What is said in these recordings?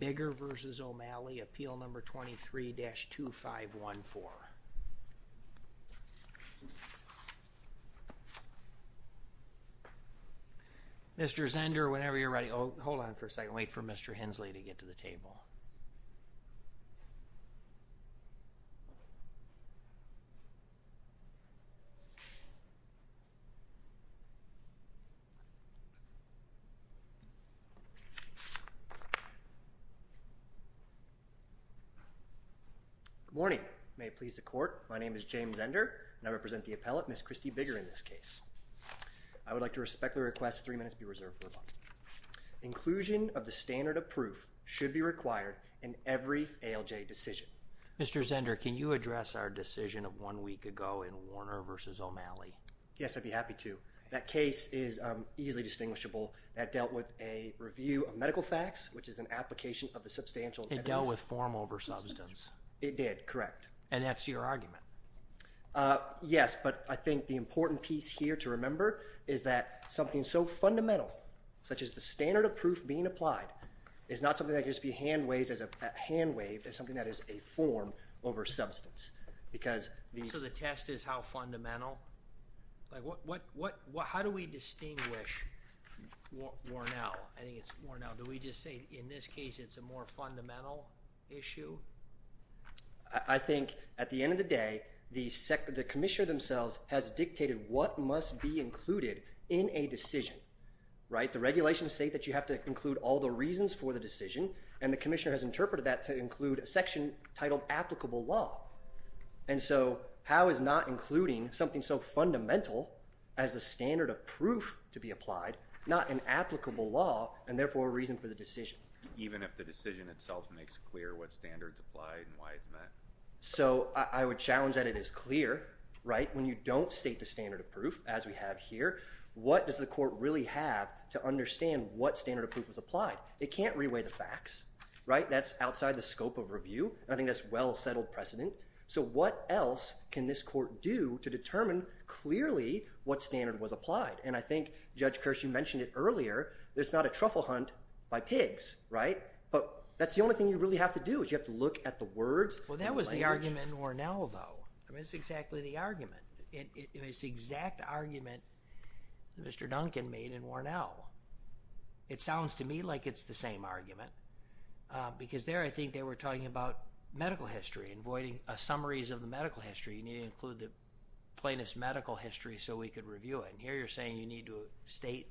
Bigger v. O'Malley, Appeal No. 23-2514. Mr. Zender, whenever you're ready. Oh, hold on for a second. Wait for Mr. Hensley to get to the table. Good morning. May it please the court, my name is James Zender, and I represent the appellate, Ms. Christi Bigger, in this case. I would like to respect the request that three minutes be reserved for a moment. Inclusion of the standard of proof should be required in every ALJ decision. Mr. Zender, can you address our decision of one week ago in Warner v. O'Malley? Yes, I'd be happy to. That case is easily distinguishable. That dealt with a review of medical facts, which is an application of the substantial evidence. It dealt with form over substance. It did, correct. And that's your argument? Yes, but I think the important piece here to remember is that something so fundamental, such as the standard of proof being applied, is not something that can just be hand-waved as something that is a form over substance. So the test is how fundamental? How do we distinguish Warnell? Do we just say in this case it's a more fundamental issue? I think at the end of the day, the commissioner themselves has dictated what must be included in a decision. The regulations state that you have to include all the reasons for the decision, and the commissioner has interpreted that to include a section titled applicable law. And so how is not including something so fundamental as the standard of proof to be applied, not an applicable law and therefore a reason for the decision? Even if the decision itself makes clear what standard is applied and why it's met? So I would challenge that it is clear, right? When you don't state the standard of proof, as we have here, what does the court really have to understand what standard of proof is applied? It can't re-weigh the facts, right? That's outside the scope of review. I think that's a well-settled precedent. So what else can this court do to determine clearly what standard was applied? And I think, Judge Kirsch, you mentioned it earlier. It's not a truffle hunt by pigs, right? But that's the only thing you really have to do is you have to look at the words and language. Well, that was the argument in Warnell, though. I mean, it's exactly the argument. It's the exact argument that Mr. Duncan made in Warnell. It sounds to me like it's the same argument because there I think they were talking about medical history and voiding summaries of the medical history. You need to include the plaintiff's medical history so we could review it. And here you're saying you need to state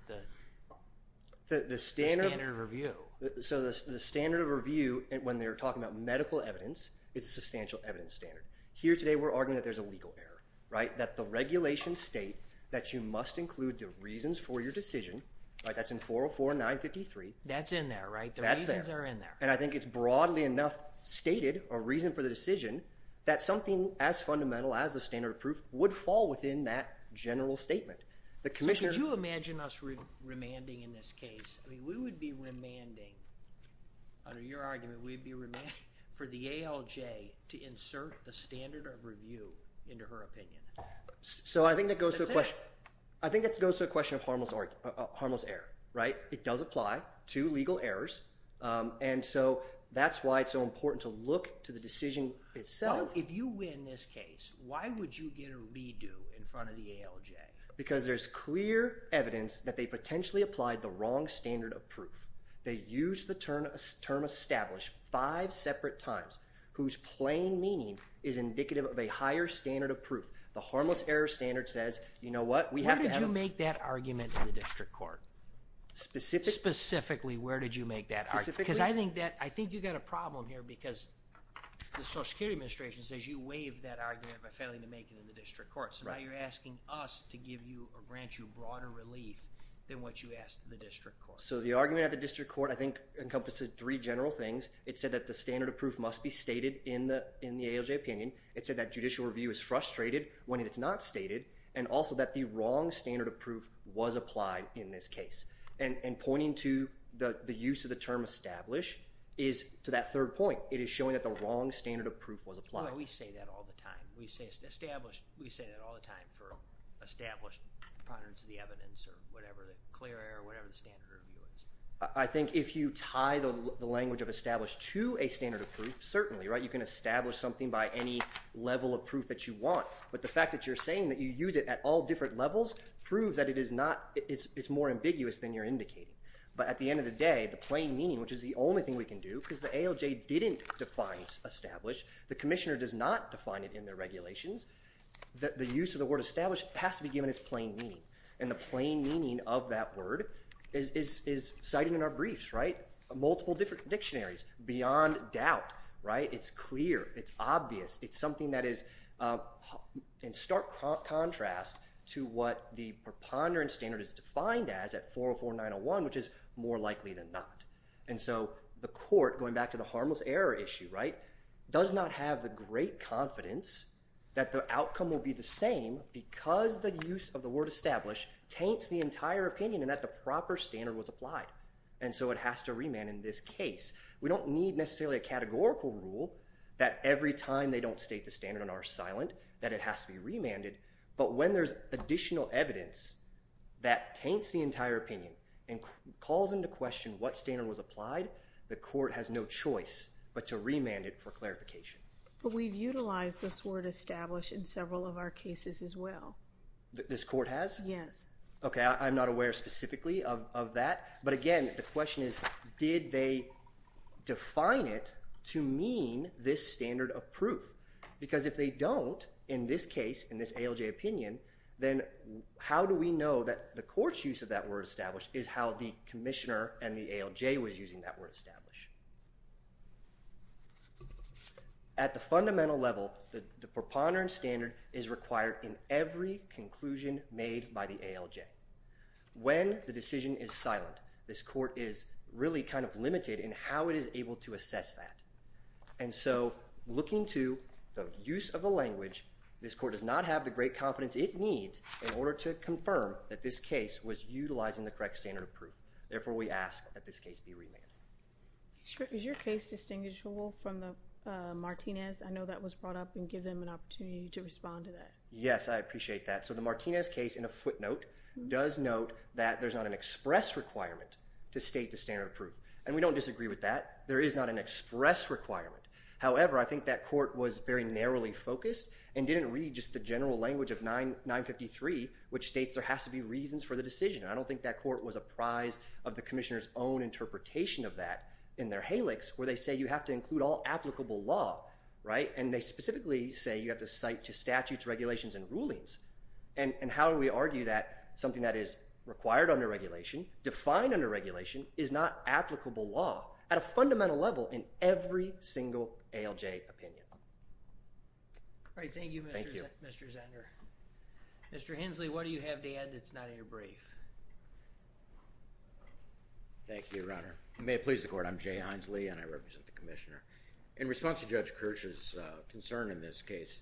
the standard of review. So the standard of review, when they're talking about medical evidence, is a substantial evidence standard. Here today we're arguing that there's a legal error, right? That the regulations state that you must include the reasons for your decision. That's in 404 and 953. That's in there, right? That's there. The reasons are in there. And I think it's broadly enough stated, a reason for the decision, that something as fundamental as the standard of proof would fall within that general statement. So could you imagine us remanding in this case? I mean, we would be remanding. Under your argument, we would be remanding for the ALJ to insert the standard of review into her opinion. So I think that goes to the question of harmless error, right? It does apply to legal errors. And so that's why it's so important to look to the decision itself. If you win this case, why would you get a redo in front of the ALJ? Because there's clear evidence that they potentially applied the wrong standard of proof. They used the term established five separate times, whose plain meaning is indicative of a higher standard of proof. The harmless error standard says, you know what? Where did you make that argument in the district court? Specifically, where did you make that argument? Because I think you've got a problem here because the Social Security Administration says you waived that argument by failing to make it in the district court. So now you're asking us to give you or grant you broader relief than what you asked the district court. So the argument at the district court, I think, encompasses three general things. It said that the standard of proof must be stated in the ALJ opinion. It said that judicial review is frustrated when it's not stated, and also that the wrong standard of proof was applied in this case. And pointing to the use of the term establish is to that third point. It is showing that the wrong standard of proof was applied. Boy, we say that all the time. We say that all the time for established patterns of the evidence or whatever, the clear error, whatever the standard review is. I think if you tie the language of established to a standard of proof, certainly, right, you can establish something by any level of proof that you want. But the fact that you're saying that you use it at all different levels proves that it is not, it's more ambiguous than you're indicating. But at the end of the day, the plain meaning, which is the only thing we can do, because the ALJ didn't define established, the commissioner does not define it in their regulations, the use of the word established has to be given its plain meaning. And the plain meaning of that word is cited in our briefs, right, multiple different dictionaries beyond doubt, right? It's clear. It's obvious. It's something that is in stark contrast to what the preponderance standard is defined as at 404-901, which is more likely than not. And so the court, going back to the harmless error issue, right, does not have the great confidence that the outcome will be the same because the use of the word established taints the entire opinion and that the proper standard was applied. And so it has to remand in this case. We don't need necessarily a categorical rule that every time they don't state the standard on R silent that it has to be remanded. But when there's additional evidence that taints the entire opinion and calls into question what standard was applied, the court has no choice but to remand it for clarification. But we've utilized this word established in several of our cases as well. This court has? Yes. Okay, I'm not aware specifically of that. But again, the question is did they define it to mean this standard of proof? Because if they don't in this case, in this ALJ opinion, then how do we know that the court's use of that word established is how the commissioner and the ALJ was using that word established? At the fundamental level, the preponderance standard is required in every conclusion made by the ALJ. When the decision is silent, this court is really kind of limited in how it is able to assess that. And so looking to the use of a language, this court does not have the great confidence it needs in order to confirm that this case was utilizing the correct standard of proof. Therefore, we ask that this case be remanded. Is your case distinguishable from the Martinez? I know that was brought up and give them an opportunity to respond to that. Yes, I appreciate that. So the Martinez case, in a footnote, does note that there's not an express requirement to state the standard of proof. And we don't disagree with that. There is not an express requirement. However, I think that court was very narrowly focused and didn't read just the general language of 953, which states there has to be reasons for the decision. I don't think that court was apprised of the commissioner's own interpretation of that in their helix where they say you have to include all applicable law, right? And they specifically say you have to cite to statutes, regulations, and rulings. And how do we argue that something that is required under regulation, defined under regulation, is not applicable law at a fundamental level in every single ALJ opinion? All right, thank you, Mr. Zender. Mr. Hensley, what do you have to add that's not in your brief? Thank you, Your Honor. May it please the court, I'm Jay Hensley and I represent the commissioner. In response to Judge Kirch's concern in this case,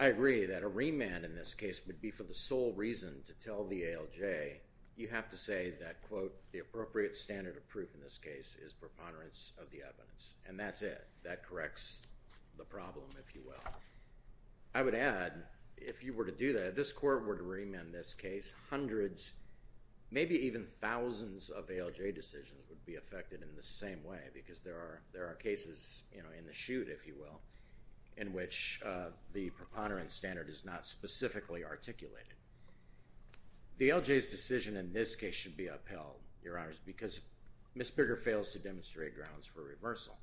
I agree that a remand in this case would be for the sole reason to tell the ALJ you have to say that, quote, the appropriate standard of proof in this case is preponderance of the evidence. And that's it. That corrects the problem, if you will. I would add, if you were to do that, if this court were to remand this case, hundreds, maybe even thousands, of ALJ decisions would be affected in the same way because there are cases in the shoot, if you will, in which the preponderance standard is not specifically articulated. The ALJ's decision in this case should be upheld, Your Honors, because Ms. Bigger fails to demonstrate grounds for reversal.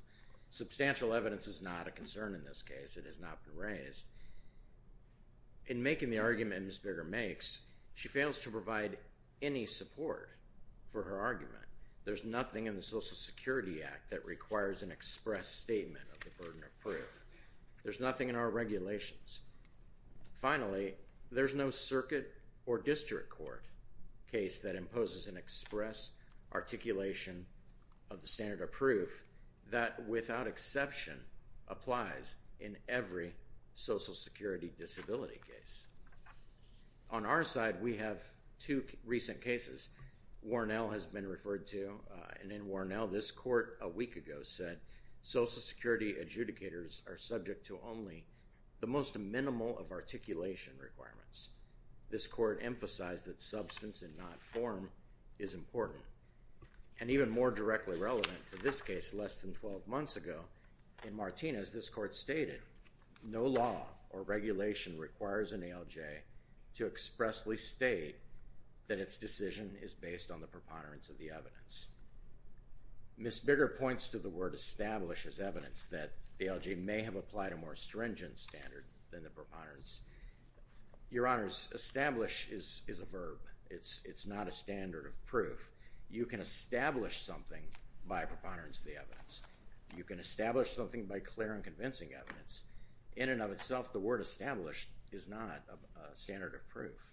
Substantial evidence is not a concern in this case. It has not been raised. In making the arguments Ms. Bigger makes, she fails to provide any support for her argument. There's nothing in the Social Security Act that requires an express statement of the burden of proof. There's nothing in our regulations. Finally, there's no circuit or district court case that imposes an express articulation of the standard of proof that, without exception, applies in every Social Security disability case. On our side, we have two recent cases. Warnell has been referred to, and in Warnell, this court a week ago said, Social Security adjudicators are subject to only the most minimal of articulation requirements. This court emphasized that substance and not form is important. And even more directly relevant to this case, less than 12 months ago, in Martinez, this court stated, no law or regulation requires an ALJ to expressly state that its decision is based on the preponderance of the evidence. Ms. Bigger points to the word establish as evidence, that the ALJ may have applied a more stringent standard than the preponderance. Your Honors, establish is a verb. It's not a standard of proof. You can establish something by preponderance of the evidence. You can establish something by clear and convincing evidence. In and of itself, the word established is not a standard of proof.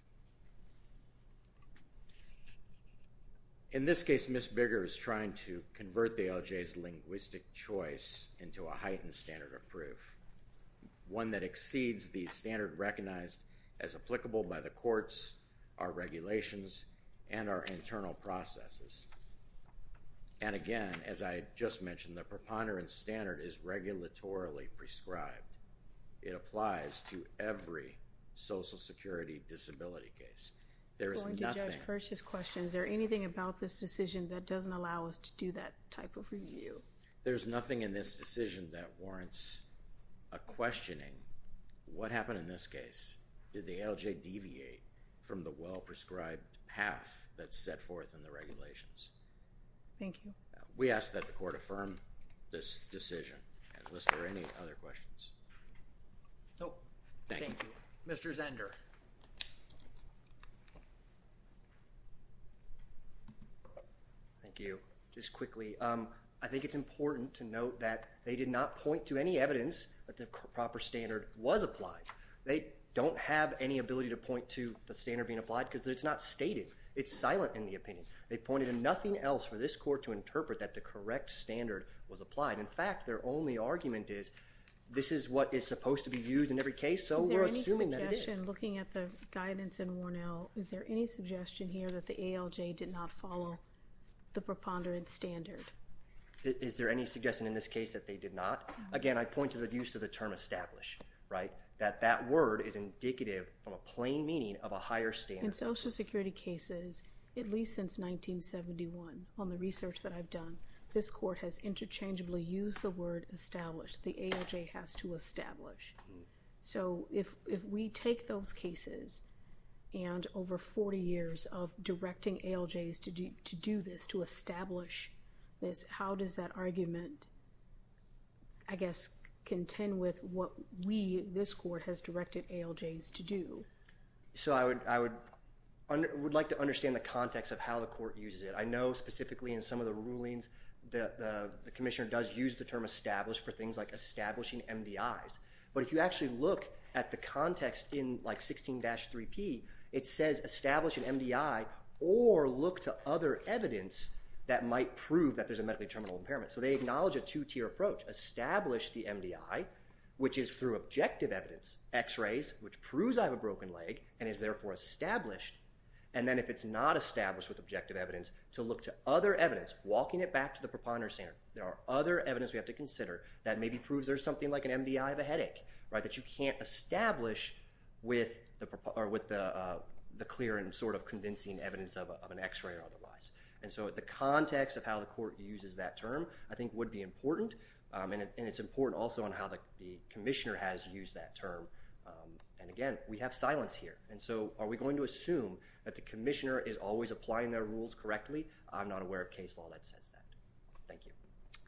In this case, Ms. Bigger is trying to convert the ALJ's linguistic choice into a heightened standard of proof, one that exceeds the standard recognized as applicable by the courts, our regulations, and our internal processes. And again, as I just mentioned, the preponderance standard is regulatorily prescribed. It applies to every Social Security disability case. There is nothing... Going to Judge Kirsch's question, is there anything about this decision that doesn't allow us to do that type of review? There's nothing in this decision that warrants a questioning. What happened in this case? Did the ALJ deviate from the well-prescribed path that's set forth in the regulations? Thank you. We ask that the court affirm this decision. Is there any other questions? Nope. Thank you. Mr. Zender. Thank you. Just quickly, I think it's important to note that they did not point to any evidence that the proper standard was applied. They don't have any ability to point to the standard being applied because it's not stated. It's silent in the opinion. They pointed to nothing else for this court to interpret that the correct standard was applied. In fact, their only argument is, this is what is supposed to be used in every case, so we're assuming that it is. Is there any suggestion, looking at the guidance in Warnell, is there any suggestion here that the ALJ did not follow the preponderance standard? Is there any suggestion in this case that they did not? Again, I point to the use of the term establish, right? That that word is indicative of a plain meaning of a higher standard. In Social Security cases, at least since 1971, on the research that I've done, this court has interchangeably used the word establish. The ALJ has to establish. So if we take those cases and over 40 years of directing ALJs to do this, to establish this, how does that argument, I guess, contend with what we, this court, has directed ALJs to do? So I would like to understand the context of how the court uses it. I know specifically in some of the rulings the commissioner does use the term establish for things like establishing MDIs. But if you actually look at the context in 16-3P, it says establish an MDI or look to other evidence that might prove that there's a medically terminal impairment. So they acknowledge a two-tier approach. Establish the MDI, which is through objective evidence, x-rays, which proves I have a broken leg and is therefore established. And then if it's not established with objective evidence, to look to other evidence, walking it back to the preponderance center. There are other evidence we have to consider that maybe proves there's something like an MDI of a headache, right? That you can't establish with the clear and sort of convincing evidence of an x-ray or otherwise. And so the context of how the court uses that term I think would be important. And it's important also on how the commissioner has used that term. And again, we have silence here. And so are we going to assume that the commissioner is always applying their rules correctly? I'm not aware of case law that says that. Thank you.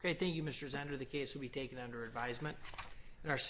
Okay, thank you, Mr. Zender. The case will be taken under advisement.